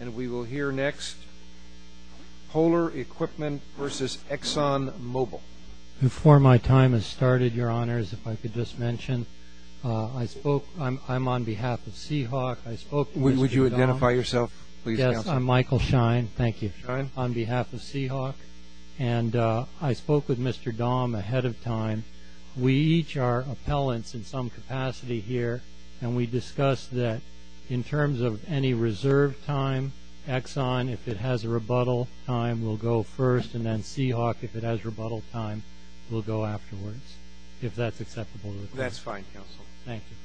And we will hear next, Polar Equipment v. ExxonMobil. Before my time has started, Your Honors, if I could just mention, I'm on behalf of Seahawk. Would you identify yourself, please? Yes, I'm Michael Shine. Thank you. Shine. On behalf of Seahawk. And I spoke with Mr. Dahm ahead of time. We each are appellants in some capacity here. And we discussed that in terms of any reserved time, Exxon, if it has a rebuttal time, will go first. And then Seahawk, if it has rebuttal time, will go afterwards, if that's acceptable. That's fine, Counsel. Thank you.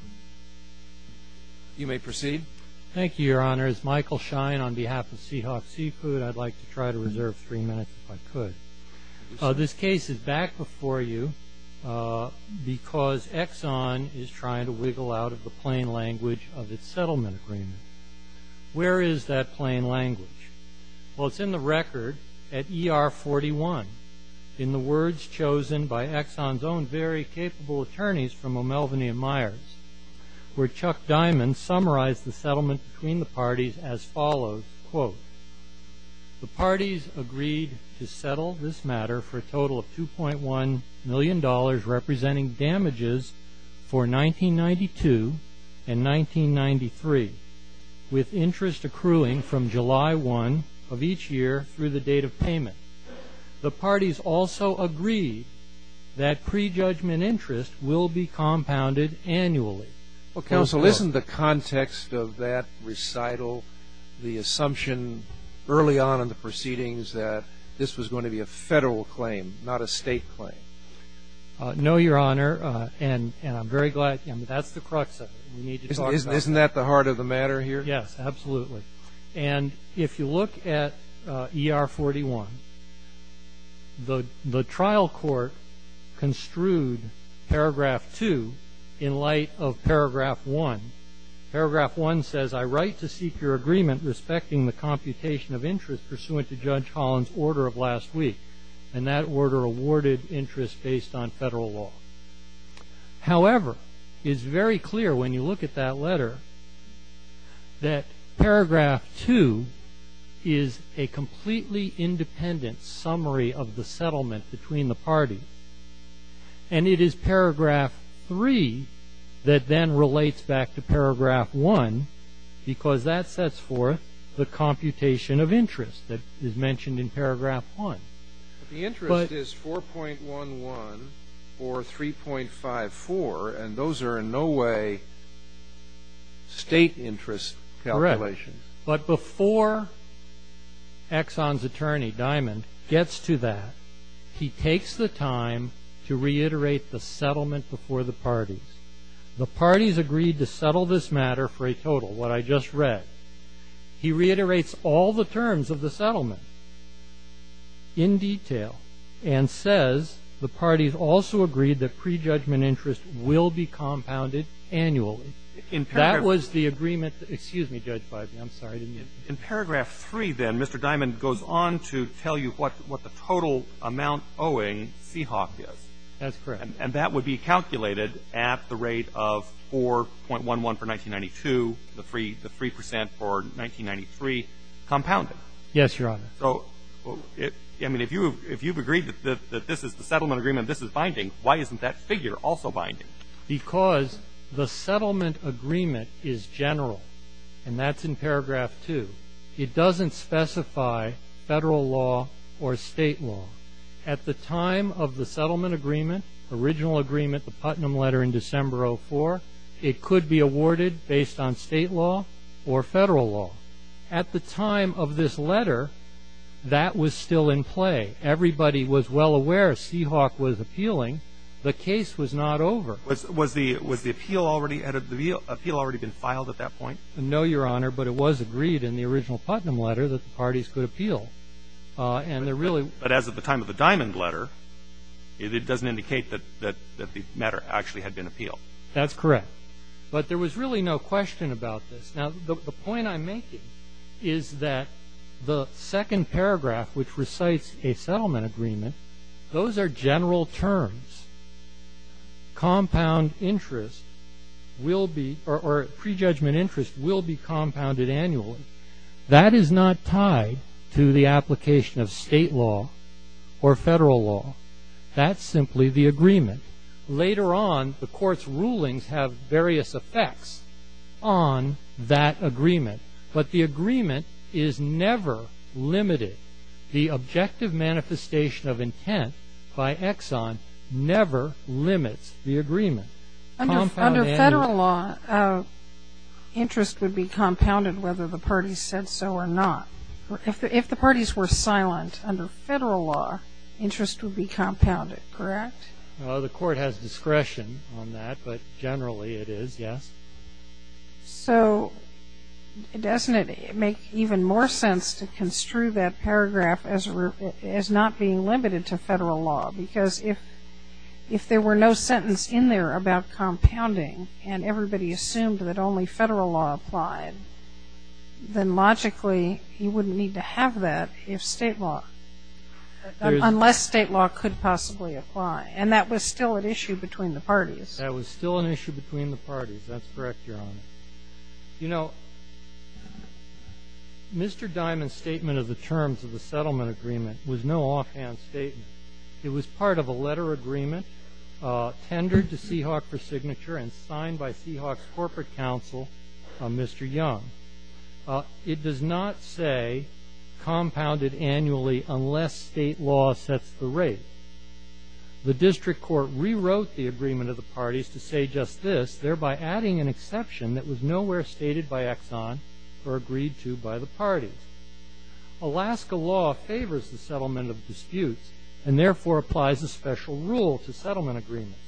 You may proceed. Thank you, Your Honors. Michael Shine on behalf of Seahawk Seafood. I'd like to try to reserve three minutes if I could. This case is back before you because Exxon is trying to wiggle out of the plain language of its settlement agreement. Where is that plain language? Well, it's in the record at ER 41 in the words chosen by Exxon's own very capable attorneys from O'Melveny & Myers, where Chuck Diamond summarized the settlement between the parties as follows, quote, the parties agreed to settle this matter for a total of $2.1 million representing damages for 1992 and 1993, with interest accruing from July 1 of each year through the date of payment. The parties also agreed that prejudgment interest will be compounded annually. Well, Counsel, isn't the context of that recital the assumption early on in the proceedings that this was going to be a federal claim, not a state claim? No, Your Honor, and I'm very glad. That's the crux of it. We need to talk about that. Isn't that the heart of the matter here? Yes, absolutely. And if you look at ER 41, the trial court construed Paragraph 2 in light of Paragraph 1. Paragraph 1 says, I write to seek your agreement respecting the computation of interest pursuant to Judge Holland's order of last week, and that order awarded interest based on federal law. However, it is very clear when you look at that letter that Paragraph 2 is a completely independent summary of the settlement between the parties, and it is Paragraph 3 that then relates back to Paragraph 1 because that sets forth the computation of interest that is mentioned in Paragraph 1. The interest is 4.11 or 3.54, and those are in no way state interest calculations. Correct. But before Exxon's attorney, Diamond, gets to that, he takes the time to reiterate the settlement before the parties. The parties agreed to settle this matter for a total, what I just read. He reiterates all the terms of the settlement in detail and says the parties also agreed that prejudgment interest will be compounded annually. That was the agreement. Excuse me, Judge Feinberg. I'm sorry. In Paragraph 3, then, Mr. Diamond goes on to tell you what the total amount owing Seahawk is. That's correct. And that would be calculated at the rate of 4.11 for 1992, the 3 percent for 1993 compounded. Yes, Your Honor. So, I mean, if you've agreed that this is the settlement agreement, this is binding, why isn't that figure also binding? Because the settlement agreement is general, and that's in Paragraph 2. It doesn't specify Federal law or State law. At the time of the settlement agreement, original agreement, the Putnam letter in December of 2004, it could be awarded based on State law or Federal law. At the time of this letter, that was still in play. Everybody was well aware Seahawk was appealing. The case was not over. Was the appeal already been filed at that point? No, Your Honor, but it was agreed in the original Putnam letter that the parties could appeal. But as of the time of the Diamond letter, it doesn't indicate that the matter actually had been appealed. That's correct. But there was really no question about this. Now, the point I'm making is that the second paragraph, which recites a settlement agreement, those are general terms. Compound interest will be or prejudgment interest will be compounded annually. That is not tied to the application of State law or Federal law. That's simply the agreement. Later on, the Court's rulings have various effects on that agreement. But the agreement is never limited. The objective manifestation of intent by Exxon never limits the agreement. Under Federal law, interest would be compounded whether the parties said so or not. If the parties were silent under Federal law, interest would be compounded, correct? The Court has discretion on that, but generally it is, yes. So doesn't it make even more sense to construe that paragraph as not being limited to Federal law? Because if there were no sentence in there about compounding and everybody assumed that only Federal law applied, then logically you wouldn't need to have that unless State law could possibly apply. And that was still an issue between the parties. That was still an issue between the parties. That's correct, Your Honor. You know, Mr. Diamond's statement of the terms of the settlement agreement was no offhand statement. It was part of a letter agreement tendered to Seahawk for signature and signed by Seahawk's corporate counsel, Mr. Young. It does not say compounded annually unless State law sets the rate. The District Court rewrote the agreement of the parties to say just this, thereby adding an exception that was nowhere stated by Exxon or agreed to by the parties. Alaska law favors the settlement of disputes and therefore applies a special rule to settlement agreements.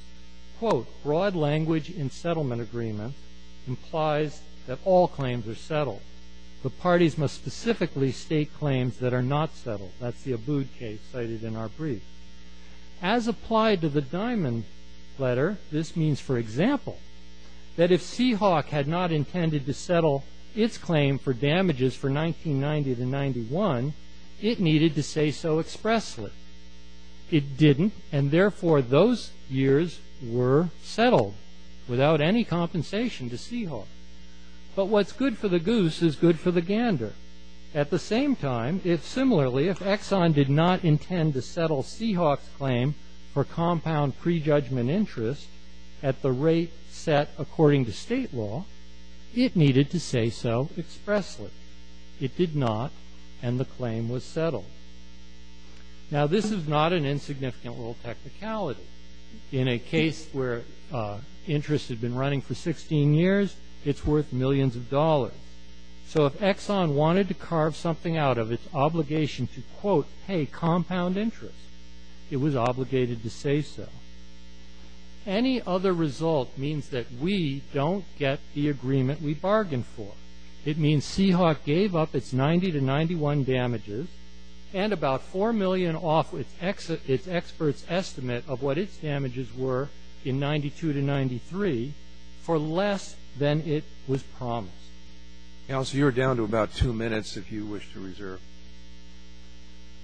Quote, broad language in settlement agreement implies that all claims are settled. The parties must specifically state claims that are not settled. That's the Abood case cited in our brief. As applied to the Diamond letter, this means, for example, that if Seahawk had not intended to settle its claim for damages for 1990 to 91, it needed to say so expressly. It didn't, and therefore those years were settled without any compensation to Seahawk. But what's good for the goose is good for the gander. At the same time, if similarly, if Exxon did not intend to settle Seahawk's claim for compound prejudgment interest at the rate set according to State law, it needed to say so expressly. It did not, and the claim was settled. Now, this is not an insignificant rule of technicality. In a case where interest had been running for 16 years, it's worth millions of dollars. So if Exxon wanted to carve something out of its obligation to, quote, pay compound interest, it was obligated to say so. Any other result means that we don't get the agreement we bargained for. It means Seahawk gave up its 90 to 91 damages and about $4 million off its expert's estimate of what its damages were in 92 to 93 for less than it was promised. Counsel, you're down to about two minutes if you wish to reserve.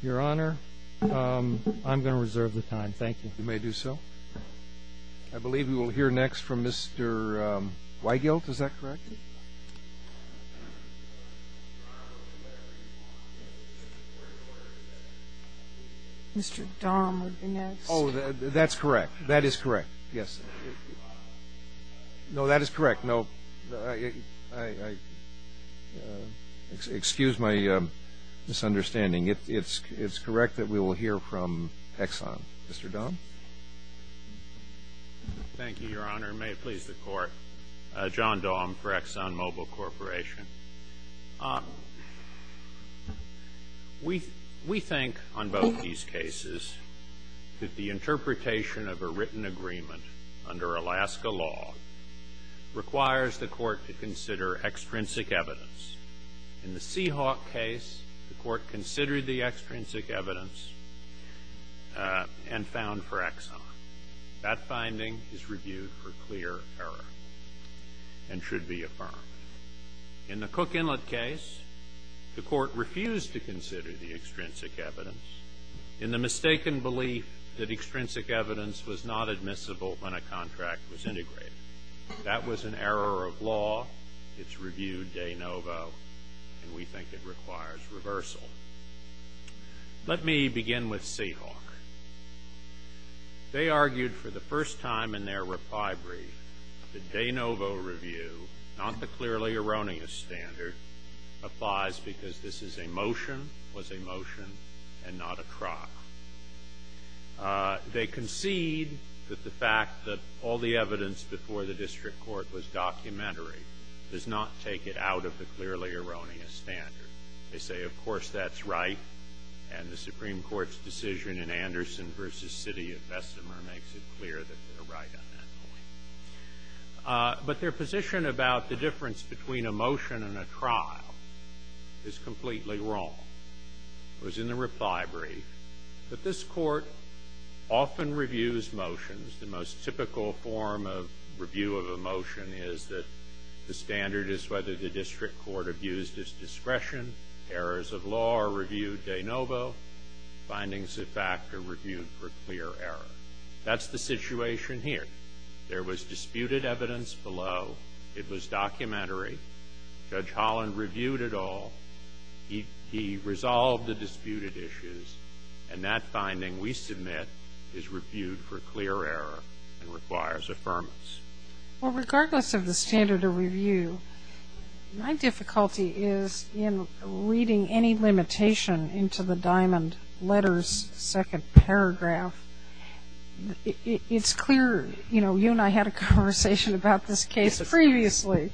Your Honor, I'm going to reserve the time. Thank you. You may do so. I believe we will hear next from Mr. Weigelt. Is that correct? Mr. Dahm would be next. Oh, that's correct. That is correct. Yes. No, that is correct. No, I excuse my misunderstanding. It's correct that we will hear from Exxon. Mr. Dahm? Thank you, Your Honor. May it please the Court. John Dahm for ExxonMobil Corporation. We think on both these cases that the interpretation of a written agreement under Alaska law requires the Court to consider extrinsic evidence. In the Seahawk case, the Court considered the extrinsic evidence and found for Exxon. That finding is reviewed for clear error and should be affirmed. In the Cook Inlet case, the Court refused to consider the extrinsic evidence in the mistaken belief that extrinsic evidence was not admissible when a contract was integrated. That was an error of law. It's reviewed de novo, and we think it requires reversal. Let me begin with Seahawk. They argued for the first time in their reply brief that de novo review, not the clearly erroneous standard, applies because this is a motion, was a motion, and not a trot. They concede that the fact that all the evidence before the district court was documentary does not take it out of the clearly erroneous standard. They say, of course, that's right, and the Supreme Court's decision in Anderson v. City of Vestmer makes it clear that they're right on that point. But their position about the difference between a motion and a trial is completely wrong. It was in the reply brief. But this Court often reviews motions. The most typical form of review of a motion is that the standard is whether the district court reviews this discretion, errors of law are reviewed de novo, findings of fact are reviewed for clear error. That's the situation here. There was disputed evidence below. It was documentary. Judge Holland reviewed it all. He resolved the disputed issues, and that finding we submit is reviewed for clear error and requires affirmance. Well, regardless of the standard of review, my difficulty is in reading any limitation into the diamond letters second paragraph. It's clear, you know, you and I had a conversation about this case previously.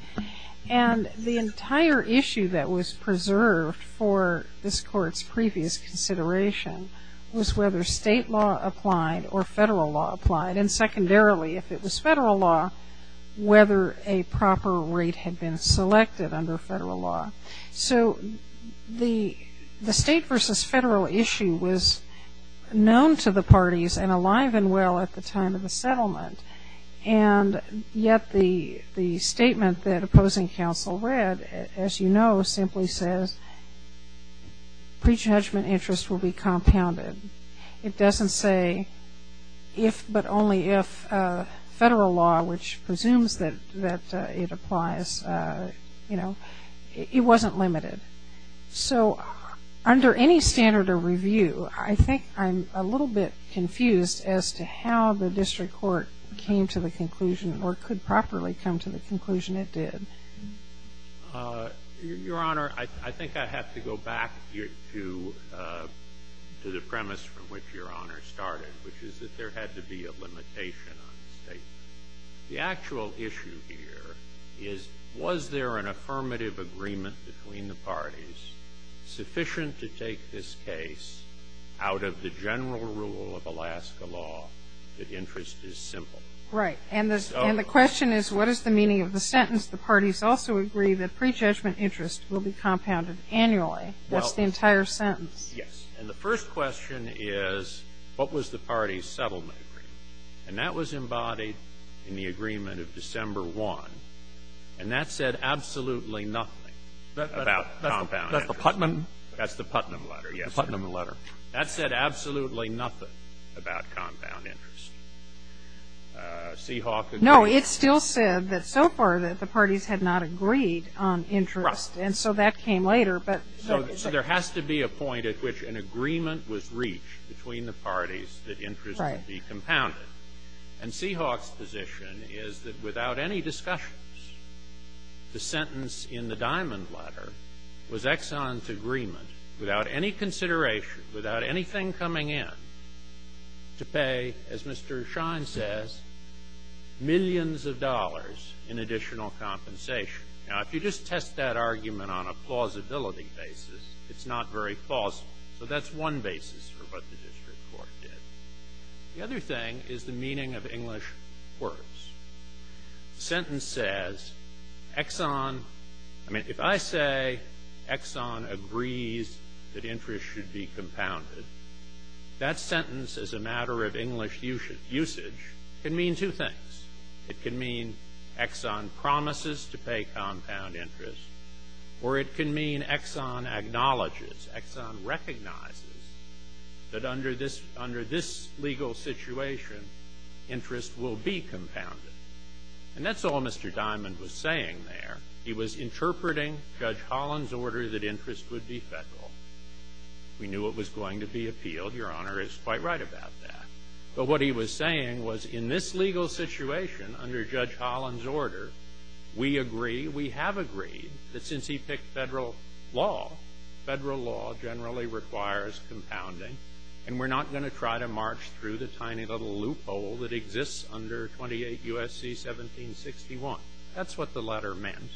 And the entire issue that was preserved for this Court's previous consideration was whether State law applied or Federal law applied. And secondarily, if it was Federal law, whether a proper rate had been selected under Federal law. So the State versus Federal issue was known to the parties and alive and well at the time of the settlement. And yet the statement that opposing counsel read, as you know, simply says pre-judgment interest will be compounded. It doesn't say if but only if Federal law, which presumes that it applies, you know, it wasn't limited. So under any standard of review, I think I'm a little bit confused as to how the district court came to the conclusion or could properly come to the conclusion it did. Your Honor, I think I have to go back to the premise from which Your Honor started, which is that there had to be a limitation on State law. The actual issue here is, was there an affirmative agreement between the parties sufficient to take this case out of the general rule of Alaska law that interest is simple? Right. And the question is, what is the meaning of the sentence? The parties also agree that pre-judgment interest will be compounded annually. That's the entire sentence. Yes. And the first question is, what was the parties' settlement agreement? And that was embodied in the agreement of December 1. And that said absolutely nothing about compound interest. That's the Putnam? That's the Putnam letter, yes. The Putnam letter. That said absolutely nothing about compound interest. Seahawk agreed. No, it still said that so far that the parties had not agreed on interest. Right. And so that came later. So there has to be a point at which an agreement was reached between the parties that interest would be compounded. Right. And Seahawk's position is that without any discussions, the sentence in the Diamond letter was Exxon's agreement, without any consideration, without anything coming in, to pay, as Mr. Shine says, millions of dollars in additional compensation. Now, if you just test that argument on a plausibility basis, it's not very plausible. So that's one basis for what the district court did. The other thing is the meaning of English words. The sentence says, Exxon. I mean, if I say Exxon agrees that interest should be compounded, that sentence as a matter of English usage can mean two things. It can mean Exxon promises to pay compound interest, or it can mean Exxon acknowledges, Exxon recognizes, that under this legal situation, interest will be compounded. And that's all Mr. Diamond was saying there. He was interpreting Judge Holland's order that interest would be federal. We knew it was going to be appealed. Your Honor is quite right about that. But what he was saying was, in this legal situation, under Judge Holland's order, we agree, we have agreed, that since he picked federal law, federal law generally requires compounding, and we're not going to try to march through the tiny little loophole that exists under 28 U.S.C. 1761. That's what the letter meant.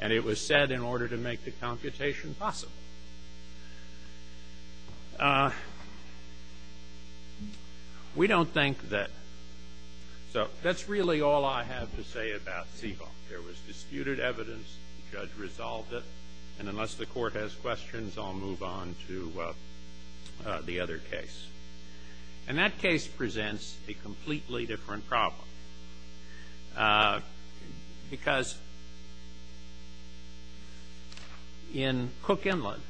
And it was said in order to make the computation possible. We don't think that so. That's really all I have to say about Siegel. There was disputed evidence. The judge resolved it. And unless the Court has questions, I'll move on to the other case. And that case presents a completely different problem. Because in Cook Inlet,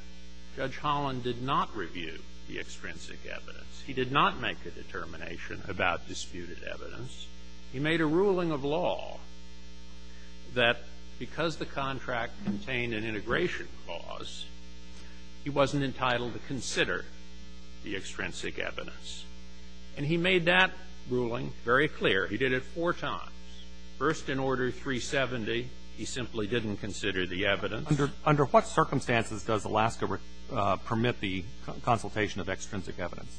Judge Holland did not review the extrinsic evidence. He did not make a determination about disputed evidence. He made a ruling of law that because the contract contained an integration clause, he wasn't entitled to consider the extrinsic evidence. And he made that ruling very clear. He did it four times. First, in Order 370, he simply didn't consider the evidence. Under what circumstances does Alaska permit the consultation of extrinsic evidence?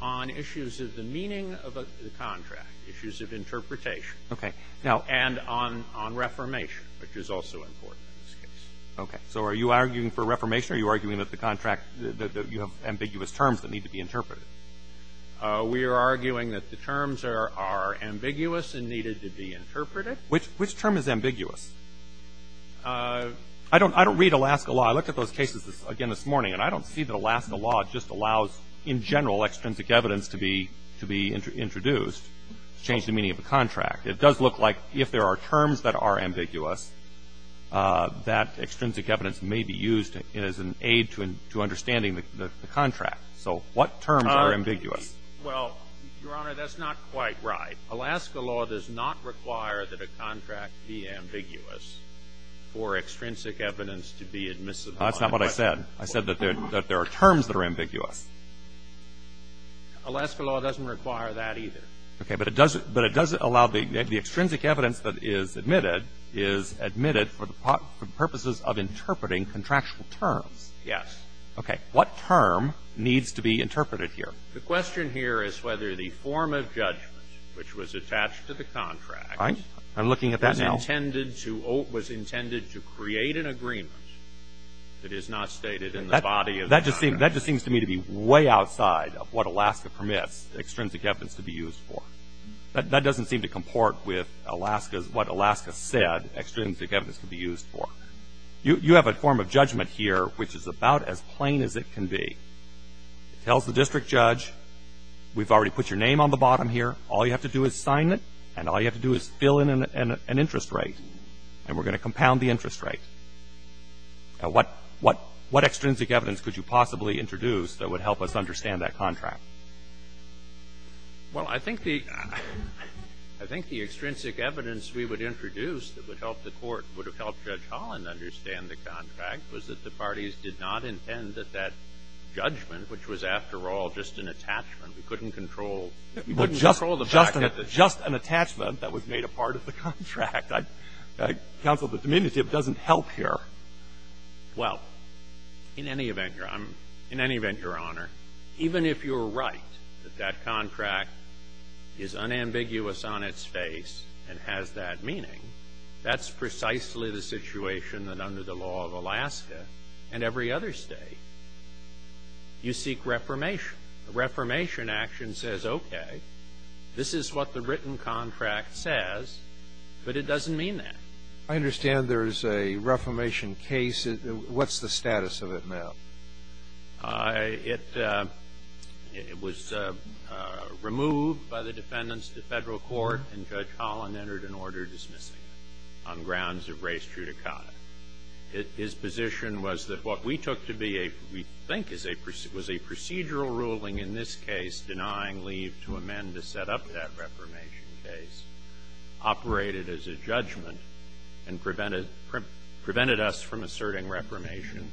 On issues of the meaning of the contract, issues of interpretation. Okay. And on reformation, which is also important in this case. Okay. So are you arguing for reformation, or are you arguing that you have ambiguous terms that need to be interpreted? We are arguing that the terms are ambiguous and needed to be interpreted. Which term is ambiguous? I don't read Alaska law. I looked at those cases again this morning, and I don't see that Alaska law just allows in general extrinsic evidence to be introduced to change the meaning of the contract. It does look like if there are terms that are ambiguous, that extrinsic evidence may be used as an aid to understanding the contract. So what terms are ambiguous? Well, Your Honor, that's not quite right. Alaska law does not require that a contract be ambiguous for extrinsic evidence to be admissible. That's not what I said. I said that there are terms that are ambiguous. Alaska law doesn't require that either. Okay. But it doesn't allow the extrinsic evidence that is admitted is admitted for the purposes of interpreting contractual terms. Yes. Okay. What term needs to be interpreted here? The question here is whether the form of judgment which was attached to the contract All right. I'm looking at that now. was intended to create an agreement that is not stated in the body of the contract. That just seems to me to be way outside of what Alaska permits extrinsic evidence to be used for. That doesn't seem to comport with what Alaska said extrinsic evidence could be used for. You have a form of judgment here which is about as plain as it can be. It tells the district judge, we've already put your name on the bottom here. All you have to do is sign it, and all you have to do is fill in an interest rate, and we're going to compound the interest rate. Now, what extrinsic evidence could you possibly introduce that would help us understand that contract? Well, I think the – I think the extrinsic evidence we would introduce that would help the Court, would have helped Judge Holland understand the contract, was that the parties did not intend that that judgment, which was, after all, just an attachment, we couldn't control the fact that it was just an attachment that was made a part of the contract. Counsel, the diminutive doesn't help here. Well, in any event, Your Honor, even if you're right that that contract is unambiguous on its face and has that meaning, that's precisely the situation that under the law of Alaska and every other State, you seek reformation. The reformation action says, okay, this is what the written contract says, but it doesn't mean that. I understand there is a reformation case. What's the status of it now? It was removed by the defendants to Federal court, and Judge Holland entered an order dismissing it on grounds of res judicata. His position was that what we took to be a – we think was a procedural ruling in this case denying leave to amend to set up that reformation case operated as a judgment and prevented us from asserting reformation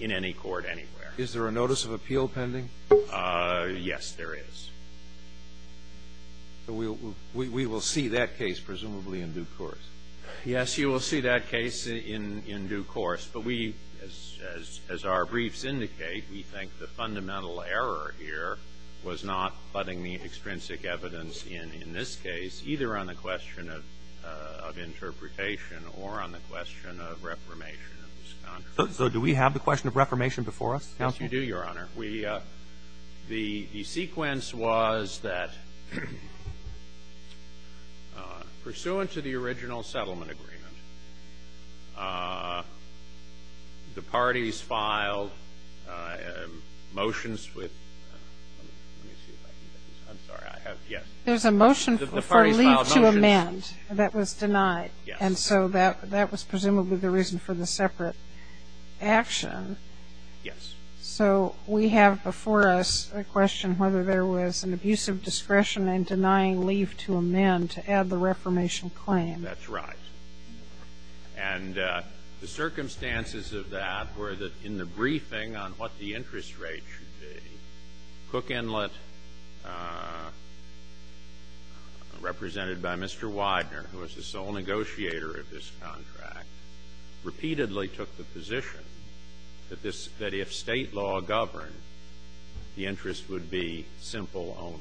in any court anywhere. Is there a notice of appeal pending? Yes, there is. We will see that case presumably in due course. Yes, you will see that case in due course. But we, as our briefs indicate, we think the fundamental error here was not putting the extrinsic evidence in in this case, either on the question of interpretation or on the question of reformation of this contract. So do we have the question of reformation before us, counsel? Yes, you do, Your Honor. Your Honor, we – the sequence was that pursuant to the original settlement agreement, the parties filed motions with – let me see if I can get this. I'm sorry. I have – yes. There's a motion for leave to amend. The parties filed motions. That was denied. Yes. And so that was presumably the reason for the separate action. Yes. So we have before us a question whether there was an abuse of discretion in denying leave to amend to add the reformation claim. That's right. And the circumstances of that were that in the briefing on what the interest rate should be, Cook Inlet, represented by Mr. Widener, who was the sole negotiator of this contract, repeatedly took the position that this – that if State law governed, the interest would be simple only.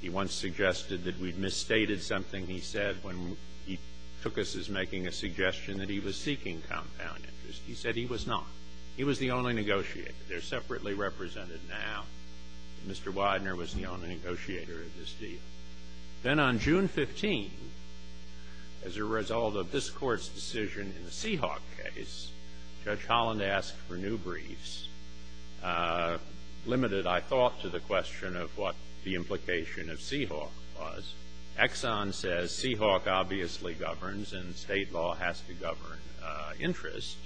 He once suggested that we'd misstated something he said when he took us as making a suggestion that he was seeking compound interest. He said he was not. He was the only negotiator. They're separately represented now. Mr. Widener was the only negotiator of this deal. Then on June 15, as a result of this Court's decision in the Seahawk case, Judge Holland asked for new briefs, limited, I thought, to the question of what the implication of Seahawk was. Exxon says Seahawk obviously governs and State law has to govern interest.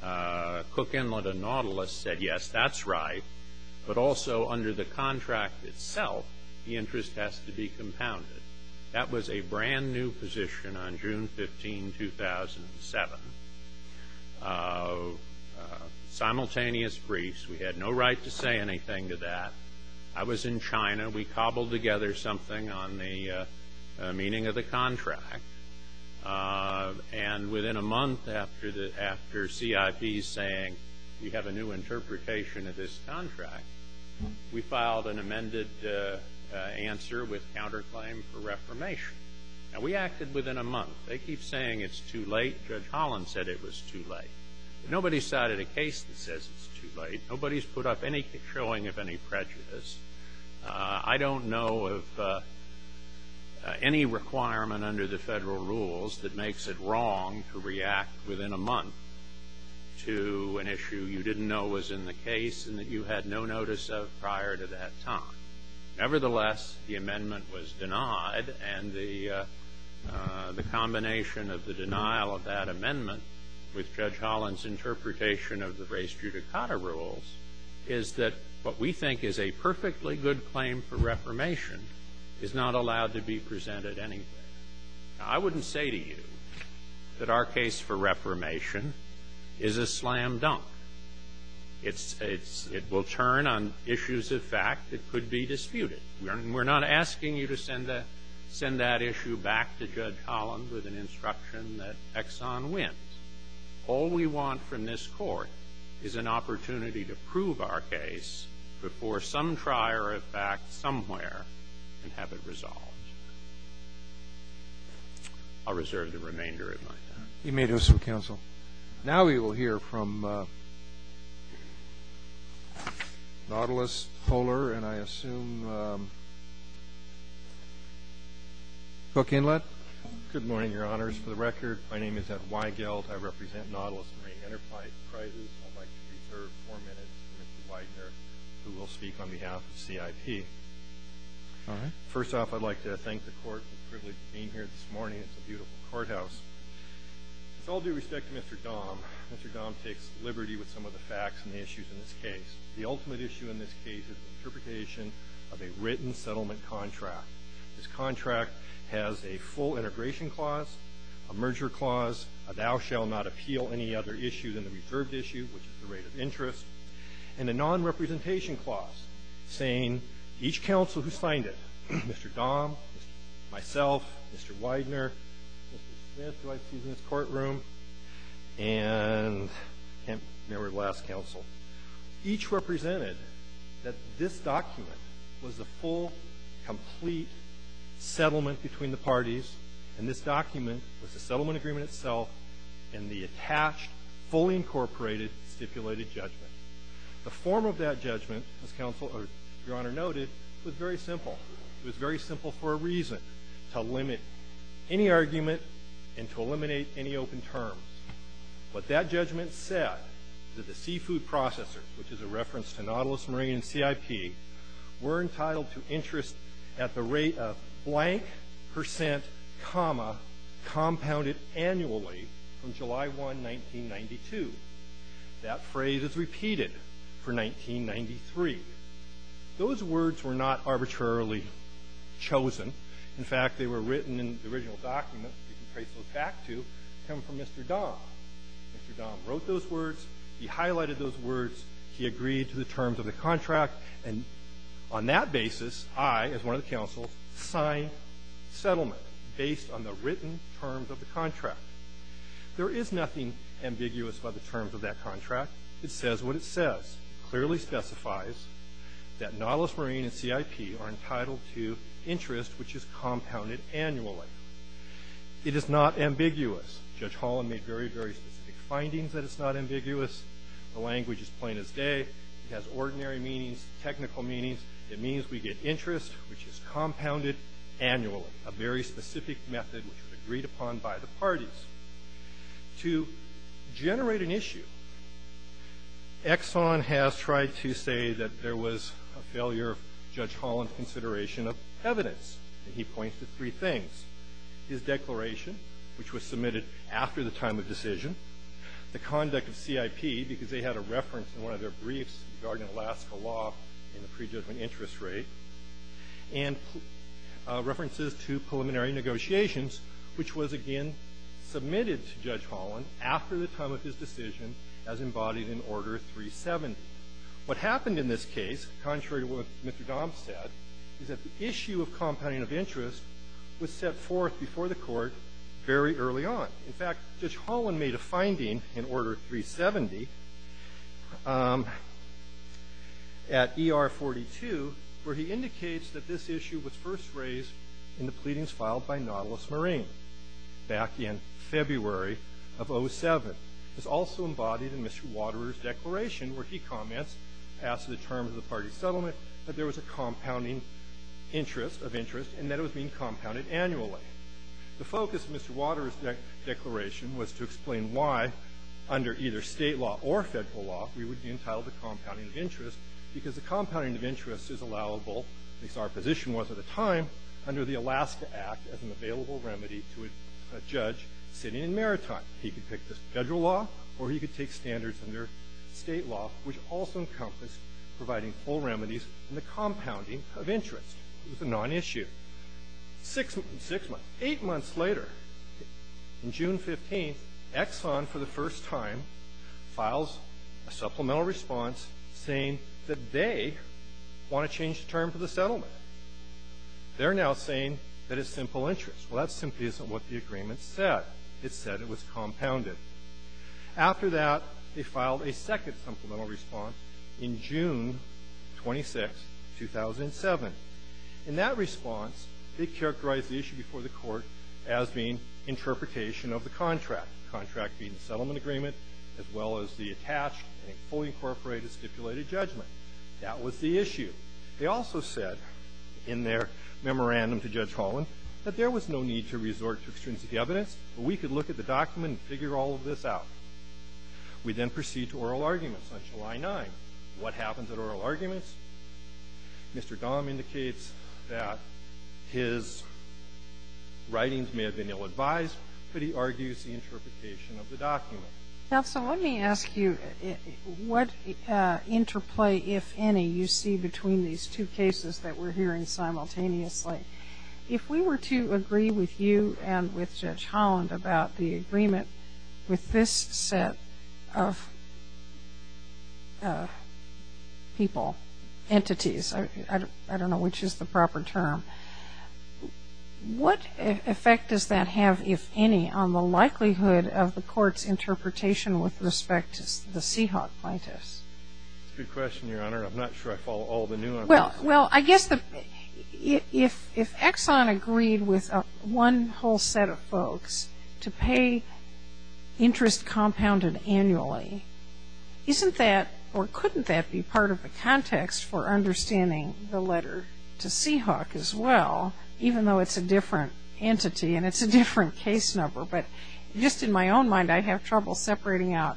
Cook Inlet and Nautilus said, yes, that's right, but also under the contract itself, the interest has to be compounded. That was a brand-new position on June 15, 2007. Simultaneous briefs. We had no right to say anything to that. I was in China. We cobbled together something on the meaning of the contract, and within a month after CIP saying we have a new interpretation of this contract, we filed an amended answer with counterclaim for reformation. Now, we acted within a month. They keep saying it's too late. Judge Holland said it was too late. Nobody's cited a case that says it's too late. Nobody's put up any showing of any prejudice. I don't know of any requirement under the Federal rules that makes it wrong to react within a month to an issue you didn't know was in the case and that you had no notice of prior to that time. Nevertheless, the amendment was denied, and the combination of the denial of that amendment with Judge Holland's interpretation of the race judicata rules is that what we think is a perfectly good claim for reformation is not allowed to be presented anywhere. Now, I wouldn't say to you that our case for reformation is a slam dunk. It's — it's — it will turn on issues of fact that could be disputed. We're not asking you to send the — send that issue back to Judge Holland with an instruction that Exxon wins. All we want from this Court is an opportunity to prove our case before some trier of fact somewhere and have it resolved. I'll reserve the remainder of my time. You may do so, Counsel. Now we will hear from Nautilus Poehler, and I assume Cook Inlet. Good morning, Your Honors. For the record, my name is Ed Weigeld. I represent Nautilus Marine Enterprise. I'd like to reserve four minutes for Mr. Widener, who will speak on behalf of CIP. All right. First off, I'd like to thank the Court for the privilege of being here this morning. It's a beautiful courthouse. With all due respect to Mr. Dahm, Mr. Dahm takes liberty with some of the facts and the issues in this case. The ultimate issue in this case is the interpretation of a written settlement contract. This contract has a full integration clause, a merger clause, a thou shall not appeal any other issue than the reserved issue, which is the rate of interest, and a nonrepresentation clause saying each counsel who signed it, Mr. Dahm, myself, Mr. Widener, Mr. Smith, who I see in this courtroom, and I can't remember the last counsel, each represented that this document was the full, complete settlement between the parties and this document was the settlement agreement itself and the attached, fully incorporated, stipulated judgment. The form of that judgment, as your Honor noted, was very simple. It was very simple for a reason, to limit any argument and to eliminate any open terms. But that judgment said that the seafood processor, which is a reference to Nautilus Marine and CIP, were entitled to interest at the rate of blank percent, comma, compounded annually from July 1, 1992. That phrase is repeated for 1993. Those words were not arbitrarily chosen. In fact, they were written in the original document. You can trace those back to them from Mr. Dahm. Mr. Dahm wrote those words. He highlighted those words. He agreed to the terms of the contract. And on that basis, I, as one of the counsels, signed settlement based on the written terms of the contract. There is nothing ambiguous about the terms of that contract. It says what it says. It clearly specifies that Nautilus Marine and CIP are entitled to interest, which is compounded annually. It is not ambiguous. Judge Holland made very, very specific findings that it's not ambiguous. The language is plain as day. It has ordinary meanings, technical meanings. It means we get interest, which is compounded annually, a very specific method which was agreed upon by the parties. To generate an issue, Exxon has tried to say that there was a failure of Judge Holland's consideration of evidence. And he points to three things, his declaration, which was submitted after the time of decision, the conduct of CIP because they had a reference in one of their briefs regarding Alaska law in the prejudgment interest rate, and references to preliminary negotiations, which was again submitted to Judge Holland after the time of his decision as embodied in Order 370. What happened in this case, contrary to what Mr. Dahm said, is that the issue of compounding of interest was set forth before the Court very early on. In fact, Judge Holland made a finding in Order 370 at ER 42 where he indicates that this issue was first raised in the pleadings filed by Nautilus Marine back in February of 07. It was also embodied in Mr. Waterer's declaration where he comments after the terms of the party settlement that there was a compounding interest of interest and that it was being compounded annually. The focus of Mr. Waterer's declaration was to explain why under either State law or Federal law we would be entitled to compounding of interest because the compounding of interest is allowable, at least our position was at the time, under the Alaska Act as an available remedy to a judge sitting in Maritime. He could pick the Federal law or he could take standards under State law, which also encompassed providing full remedies in the compounding of interest. It was a nonissue. Six months, eight months later, in June 15th, Exxon for the first time files a supplemental response saying that they want to change the term for the settlement. They're now saying that it's simple interest. Well, that simply isn't what the agreement said. It said it was compounded. After that, they filed a second supplemental response in June 26, 2007. In that response, they characterized the issue before the Court as being interpretation of the contract, the contract being the settlement agreement as well as the attached and fully incorporated stipulated judgment. That was the issue. They also said in their memorandum to Judge Holland that there was no need to resort to extrinsic evidence, but we could look at the document and figure all of this out. We then proceed to oral arguments on July 9th. What happens at oral arguments? Mr. Dahm indicates that his writings may have been ill-advised, but he argues the interpretation of the document. Now, so let me ask you what interplay, if any, you see between these two cases that we're hearing simultaneously. If we were to agree with you and with Judge Holland about the agreement with this set of people, entities, I don't know which is the proper term. What effect does that have, if any, on the likelihood of the Court's interpretation with respect to the Seahawk plaintiffs? That's a good question, Your Honor. I'm not sure I follow all of the new information. Well, I guess if Exxon agreed with one whole set of folks to pay interest compounded annually, isn't that or couldn't that be part of the context for understanding the letter to Seahawk as well, even though it's a different entity and it's a different case number? But just in my own mind, I have trouble separating out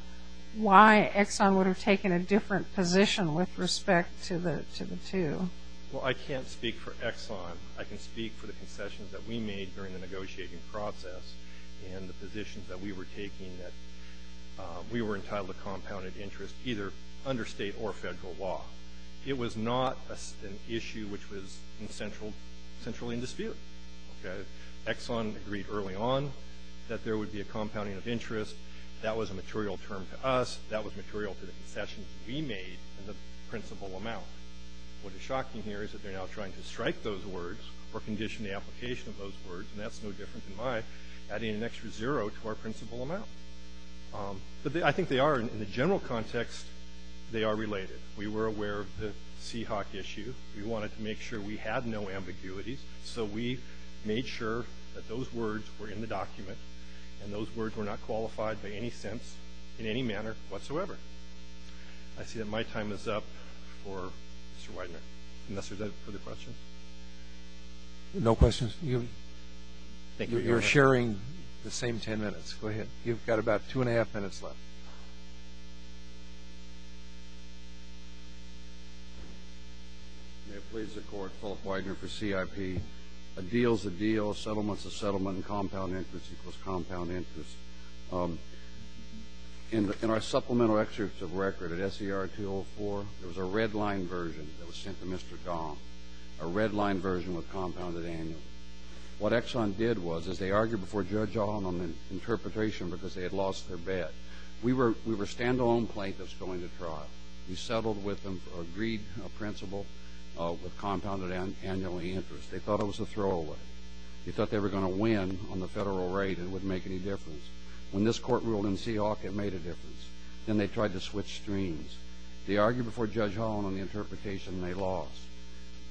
why Exxon would have taken a different position with respect to the two. Well, I can't speak for Exxon. I can speak for the concessions that we made during the negotiating process and the positions that we were taking that we were entitled to compounded interest, either under state or federal law. It was not an issue which was centrally in dispute. Exxon agreed early on that there would be a compounding of interest. That was a material term to us. That was material to the concessions we made and the principal amount. What is shocking here is that they're now trying to strike those words or condition the application of those words, and that's no different than my adding an extra zero to our principal amount. But I think they are, in the general context, they are related. We were aware of the Seahawk issue. We wanted to make sure we had no ambiguities, so we made sure that those words were in the document and those words were not qualified by any sense in any manner whatsoever. I see that my time is up for Mr. Widener. Is that it for the questions? No questions? You're sharing the same ten minutes. Go ahead. You've got about two and a half minutes left. May it please the Court, Philip Widener for CIP. A deal's a deal, settlement's a settlement, compound interest equals compound interest. In our supplemental excerpt of record at SER 204, there was a red-line version that was sent to Mr. Gong, a red-line version with compounded annual. What Exxon did was they argued before Judge Ong on the interpretation because they had lost their bet. We were a stand-alone plaintiff's going to trial. We settled with them, agreed a principal with compounded annual interest. They thought it was a throwaway. They thought they were going to win on the federal rate and it wouldn't make any difference. When this Court ruled in Seahawk, it made a difference. Then they tried to switch streams. They argued before Judge Ong on the interpretation and they lost.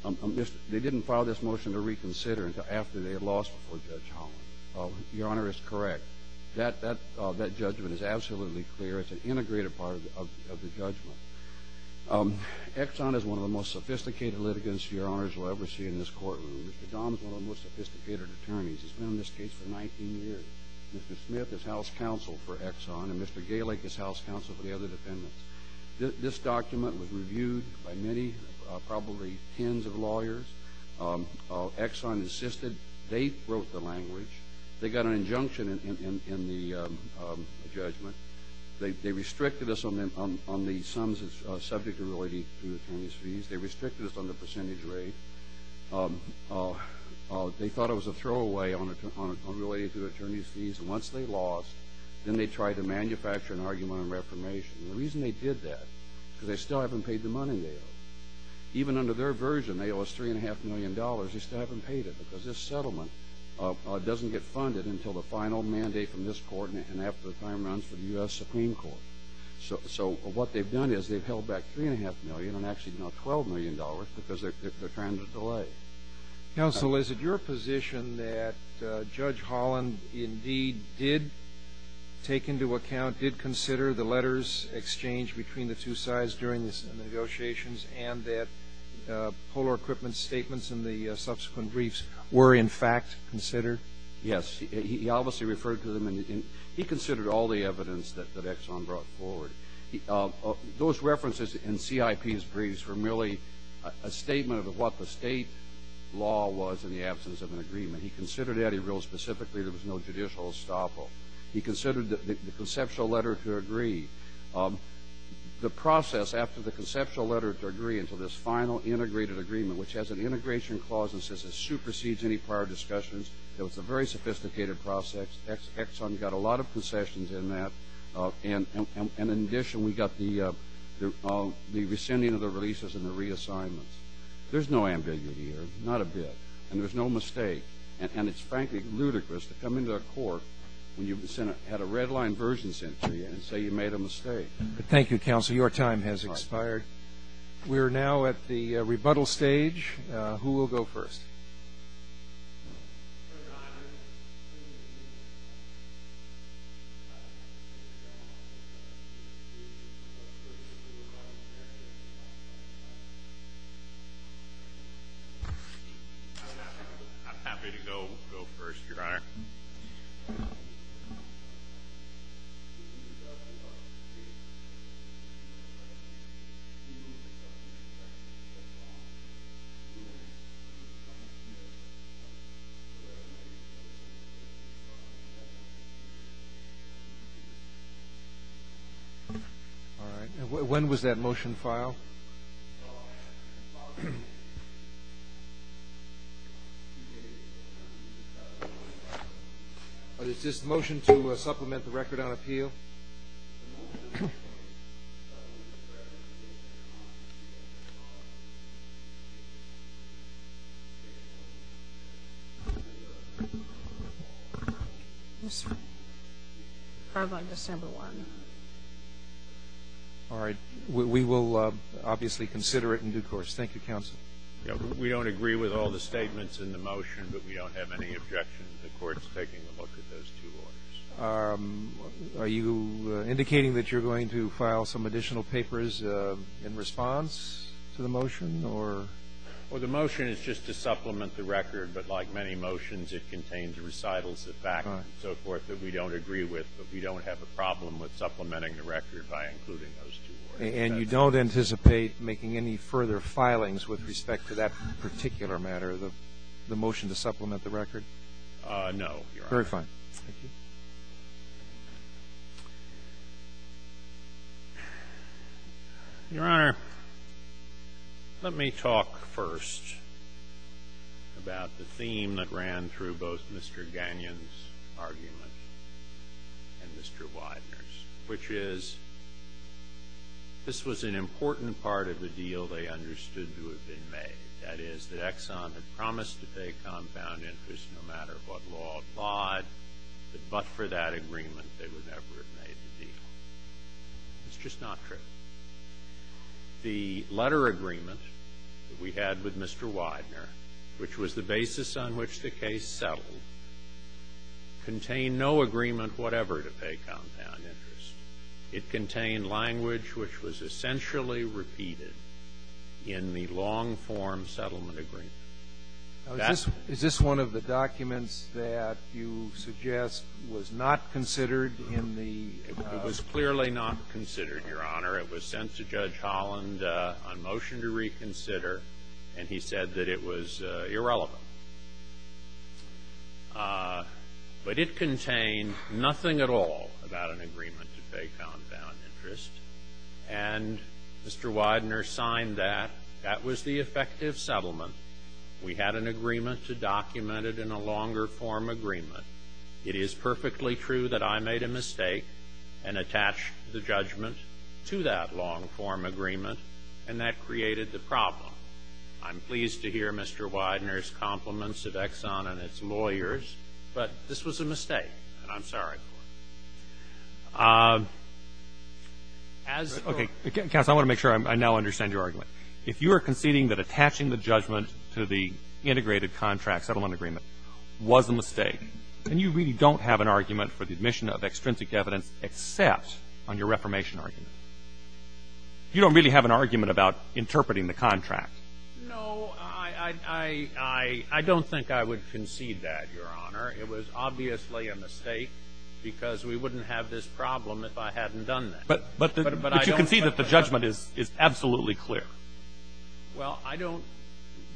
They didn't file this motion to reconsider after they had lost before Judge Ong. Your Honor is correct. That judgment is absolutely clear. It's an integrated part of the judgment. Exxon is one of the most sophisticated litigants Your Honors will ever see in this courtroom. Mr. Gong is one of the most sophisticated attorneys. He's been in this case for 19 years. Mr. Smith is House Counsel for Exxon and Mr. Galeck is House Counsel for the other defendants. This document was reviewed by many, probably tens of lawyers. Exxon insisted. They wrote the language. They got an injunction in the judgment. They restricted us on the sums of subject to royalty through attorneys' fees. They restricted us on the percentage rate. They thought it was a throwaway related to attorneys' fees. Once they lost, then they tried to manufacture an argument on reformation. The reason they did that is because they still haven't paid the money they owe. Even under their version, they owe us $3.5 million. They still haven't paid it because this settlement doesn't get funded until the final mandate from this Court and after the time runs for the U.S. Supreme Court. What they've done is they've held back $3.5 million and actually now $12 million because they're trying to delay. Counsel, is it your position that Judge Holland indeed did take into account, did consider the letters exchanged between the two sides during the negotiations and that polar equipment statements in the subsequent briefs were in fact considered? Yes. He obviously referred to them and he considered all the evidence that Exxon brought forward. Those references in CIP's briefs were merely a statement of what the state law was in the absence of an agreement. He considered that. He wrote specifically there was no judicial estoppel. He considered the conceptual letter to agree. The process after the conceptual letter to agree until this final integrated agreement, which has an integration clause and says it supersedes any prior discussions, it was a very sophisticated process. Exxon got a lot of concessions in that. And in addition, we got the rescinding of the releases and the reassignments. There's no ambiguity here, not a bit. And there's no mistake. And it's frankly ludicrous to come into a court when you had a red-line version sent to you and say you made a mistake. Thank you, Counsel. Your time has expired. We are now at the rebuttal stage. Who will go first? All right. When was that motion filed? It's just a motion to supplement the record on appeal. Probably December 1. All right. We will obviously consider it in due course. Thank you, Counsel. We don't agree with all the statements in the motion, but we don't have any objection to the courts taking a look at those two orders. Are you indicating that you're going to file some additional papers in response to the motion, or? Well, the motion is just to supplement the record, but like many motions, it contains recitals of fact and so forth that we don't agree with, but we don't have a problem with supplementing the record by including those two orders. And you don't anticipate making any further filings with respect to that particular matter, the motion to supplement the record? No, Your Honor. Very fine. Thank you. Your Honor, let me talk first about the theme that ran through both Mr. Gagnon's argument and Mr. Widener's, which is this was an important part of the deal they understood to have been made, that is, that Exxon had promised to take compound interest no matter what law applied, but for that agreement they would never have made the deal. It's just not true. The letter agreement that we had with Mr. Widener, which was the basis on which the case settled, contained no agreement whatever to pay compound interest. It contained language which was essentially repeated in the long-form settlement agreement. Is this one of the documents that you suggest was not considered in the ---- It was clearly not considered, Your Honor. It was sent to Judge Holland on motion to reconsider, and he said that it was irrelevant. But it contained nothing at all about an agreement to pay compound interest. And Mr. Widener signed that. That was the effective settlement. We had an agreement to document it in a longer-form agreement. It is perfectly true that I made a mistake and attached the judgment to that long-form agreement, and that created the problem. I'm pleased to hear Mr. Widener's compliments of Exxon and its lawyers, but this was a mistake, and I'm sorry for it. As ---- If you are conceding that attaching the judgment to the integrated contract settlement agreement was a mistake, then you really don't have an argument for the admission of extrinsic evidence except on your reformation argument. You don't really have an argument about interpreting the contract. No, I don't think I would concede that, Your Honor. It was obviously a mistake because we wouldn't have this problem if I hadn't done that. But you can see that the judgment is absolutely clear. Well, I don't,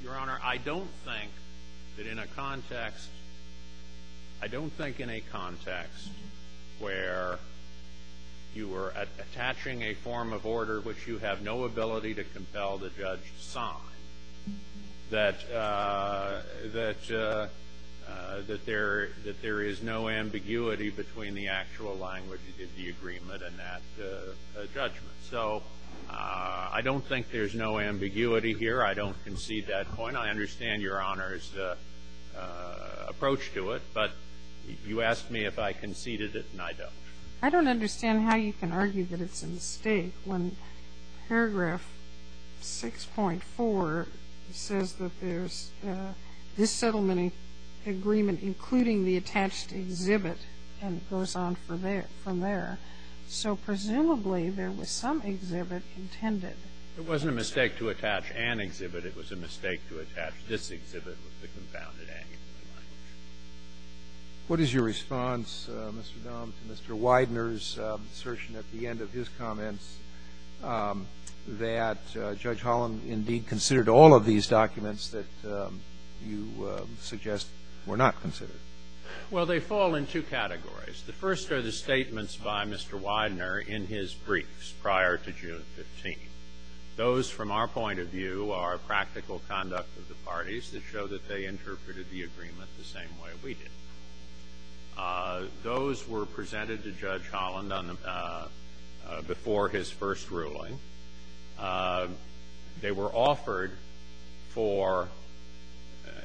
Your Honor, I don't think that in a context, I don't think in a context where you were attaching a form of order which you have no ability to compel the judge to sign, that there is no ambiguity between the actual language of the agreement and that judgment. So I don't think there's no ambiguity here. I don't concede that point. I understand Your Honor's approach to it, but you asked me if I conceded it, and I don't. I don't understand how you can argue that it's a mistake when paragraph 6.4 says that there's this settlement agreement, including the attached exhibit, and it goes on from there. So presumably there was some exhibit intended. It wasn't a mistake to attach an exhibit. It was a mistake to attach this exhibit with the confounded ambiguity language. What is your response, Mr. Dahm, to Mr. Widener's assertion at the end of his comments that Judge Holland indeed considered all of these documents that you suggest were not considered? Well, they fall in two categories. The first are the statements by Mr. Widener in his briefs prior to June 15. Those, from our point of view, are practical conduct of the parties that show that they interpreted the agreement the same way we did. Those were presented to Judge Holland before his first ruling. They were offered for,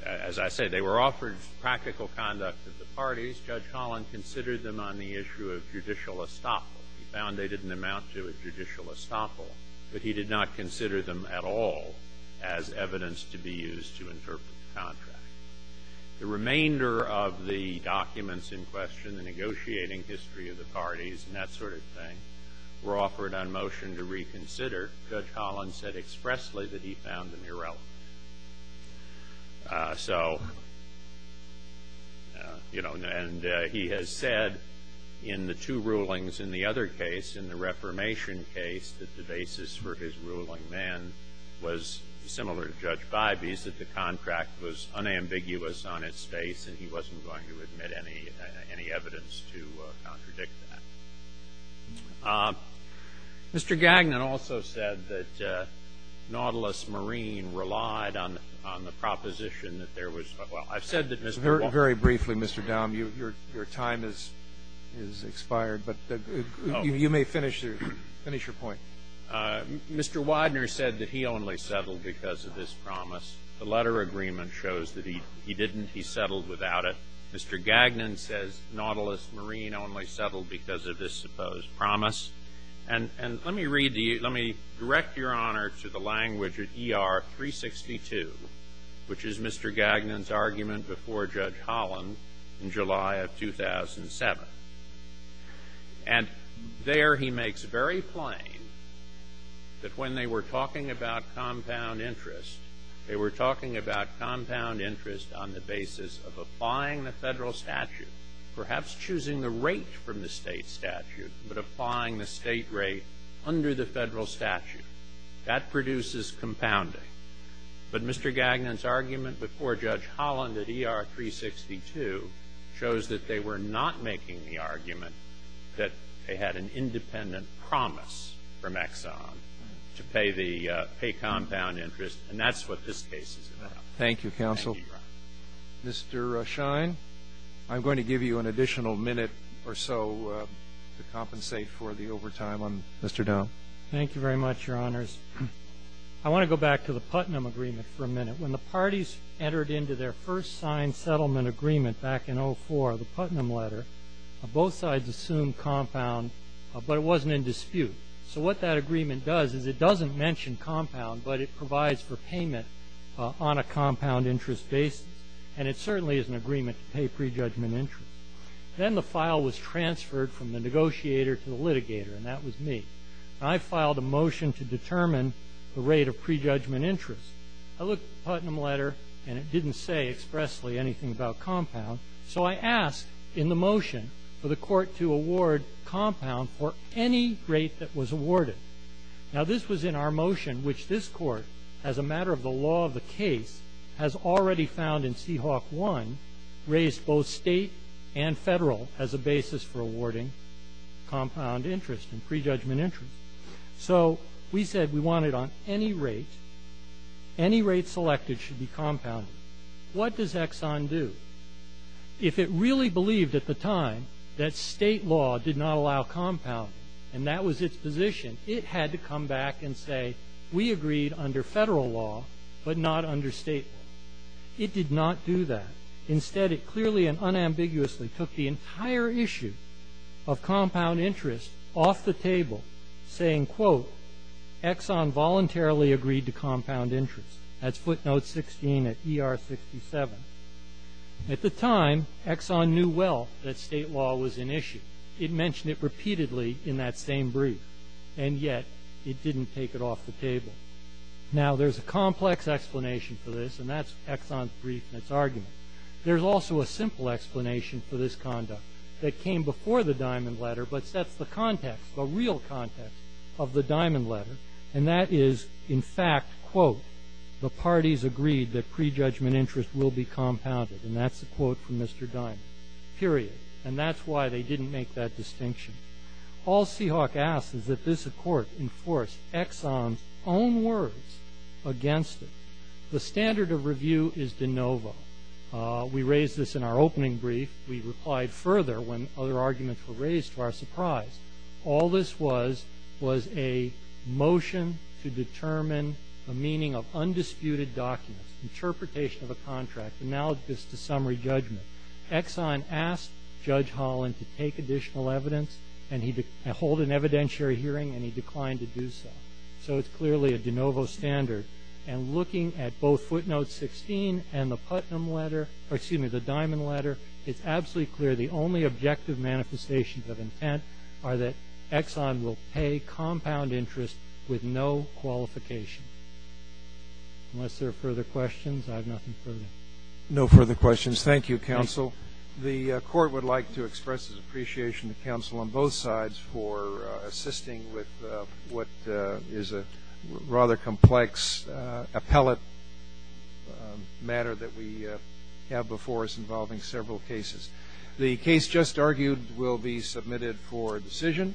as I said, they were offered practical conduct of the parties. Judge Holland considered them on the issue of judicial estoppel. He found they didn't amount to a judicial estoppel, but he did not consider them at all as evidence to be used to interpret the contract. The remainder of the documents in question, the negotiating history of the parties and that sort of thing, were offered on motion to reconsider. Judge Holland said expressly that he found them irrelevant. So, you know, and he has said in the two rulings in the other case, in the reformation case, that the basis for his ruling then was similar to Judge Bybee's, that the contract was unambiguous on its face and he wasn't going to admit any evidence to contradict that. Mr. Gagnon also said that Nautilus Marine relied on the proposition that there was, well, I've said that Mr. Widener. Very briefly, Mr. Downe. Your time has expired, but you may finish your point. Mr. Widener said that he only settled because of this promise. The letter agreement shows that he didn't. He settled without it. Mr. Gagnon says Nautilus Marine only settled because of this supposed promise. And let me read the – let me direct Your Honor to the language at ER 362, which is Mr. Gagnon's argument before Judge Holland in July of 2007. And there he makes very plain that when they were talking about compound interest, they were talking about compound interest on the basis of applying the federal statute, perhaps choosing the rate from the state statute, but applying the state rate under the federal statute. That produces compounding. But Mr. Gagnon's argument before Judge Holland at ER 362 shows that they were not making the argument that they had an independent promise from Exxon to pay the compound interest. And that's what this case is about. Thank you, counsel. Thank you, Your Honor. Mr. Schein, I'm going to give you an additional minute or so to compensate for the overtime on Mr. Downe. Thank you very much, Your Honors. I want to go back to the Putnam agreement for a minute. When the parties entered into their first signed settlement agreement back in 2004, the Putnam letter, both sides assumed compound, but it wasn't in dispute. So what that agreement does is it doesn't mention compound, but it provides for payment on a compound interest basis. And it certainly is an agreement to pay prejudgment interest. Then the file was transferred from the negotiator to the litigator, and that was me. I filed a motion to determine the rate of prejudgment interest. I looked at the Putnam letter, and it didn't say expressly anything about compound. So I asked in the motion for the court to award compound for any rate that was awarded. Now, this was in our motion, which this court, as a matter of the law of the case, has already found in Seahawk I, raised both state and federal as a basis for awarding compound interest and prejudgment interest. So we said we wanted on any rate, any rate selected should be compounded. What does Exxon do? If it really believed at the time that state law did not allow compounding, and that was its position, it had to come back and say, we agreed under federal law but not under state law. It did not do that. Instead, it clearly and unambiguously took the entire issue of compound interest off the table, saying, quote, Exxon voluntarily agreed to compound interest. That's footnote 16 at ER 67. At the time, Exxon knew well that state law was an issue. It mentioned it repeatedly in that same brief, and yet it didn't take it off the table. Now, there's a complex explanation for this, and that's Exxon's brief and its argument. There's also a simple explanation for this conduct that came before the Diamond Letter but sets the context, the real context, of the Diamond Letter. And that is, in fact, quote, the parties agreed that prejudgment interest will be compounded. And that's a quote from Mr. Diamond, period. And that's why they didn't make that distinction. All Seahawk asks is that this court enforce Exxon's own words against it. The standard of review is de novo. We raised this in our opening brief. We replied further when other arguments were raised to our surprise. All this was was a motion to determine the meaning of undisputed documents, interpretation of a contract, analogous to summary judgment. Exxon asked Judge Holland to take additional evidence and hold an evidentiary hearing, and he declined to do so. So it's clearly a de novo standard. And looking at both footnotes 16 and the Diamond Letter, it's absolutely clear the only objective manifestations of intent are that Exxon will pay compound interest with no qualification. Unless there are further questions, I have nothing further. No further questions. Thank you, counsel. The court would like to express its appreciation to counsel on both sides for a rather complex appellate matter that we have before us involving several cases. The case just argued will be submitted for decision.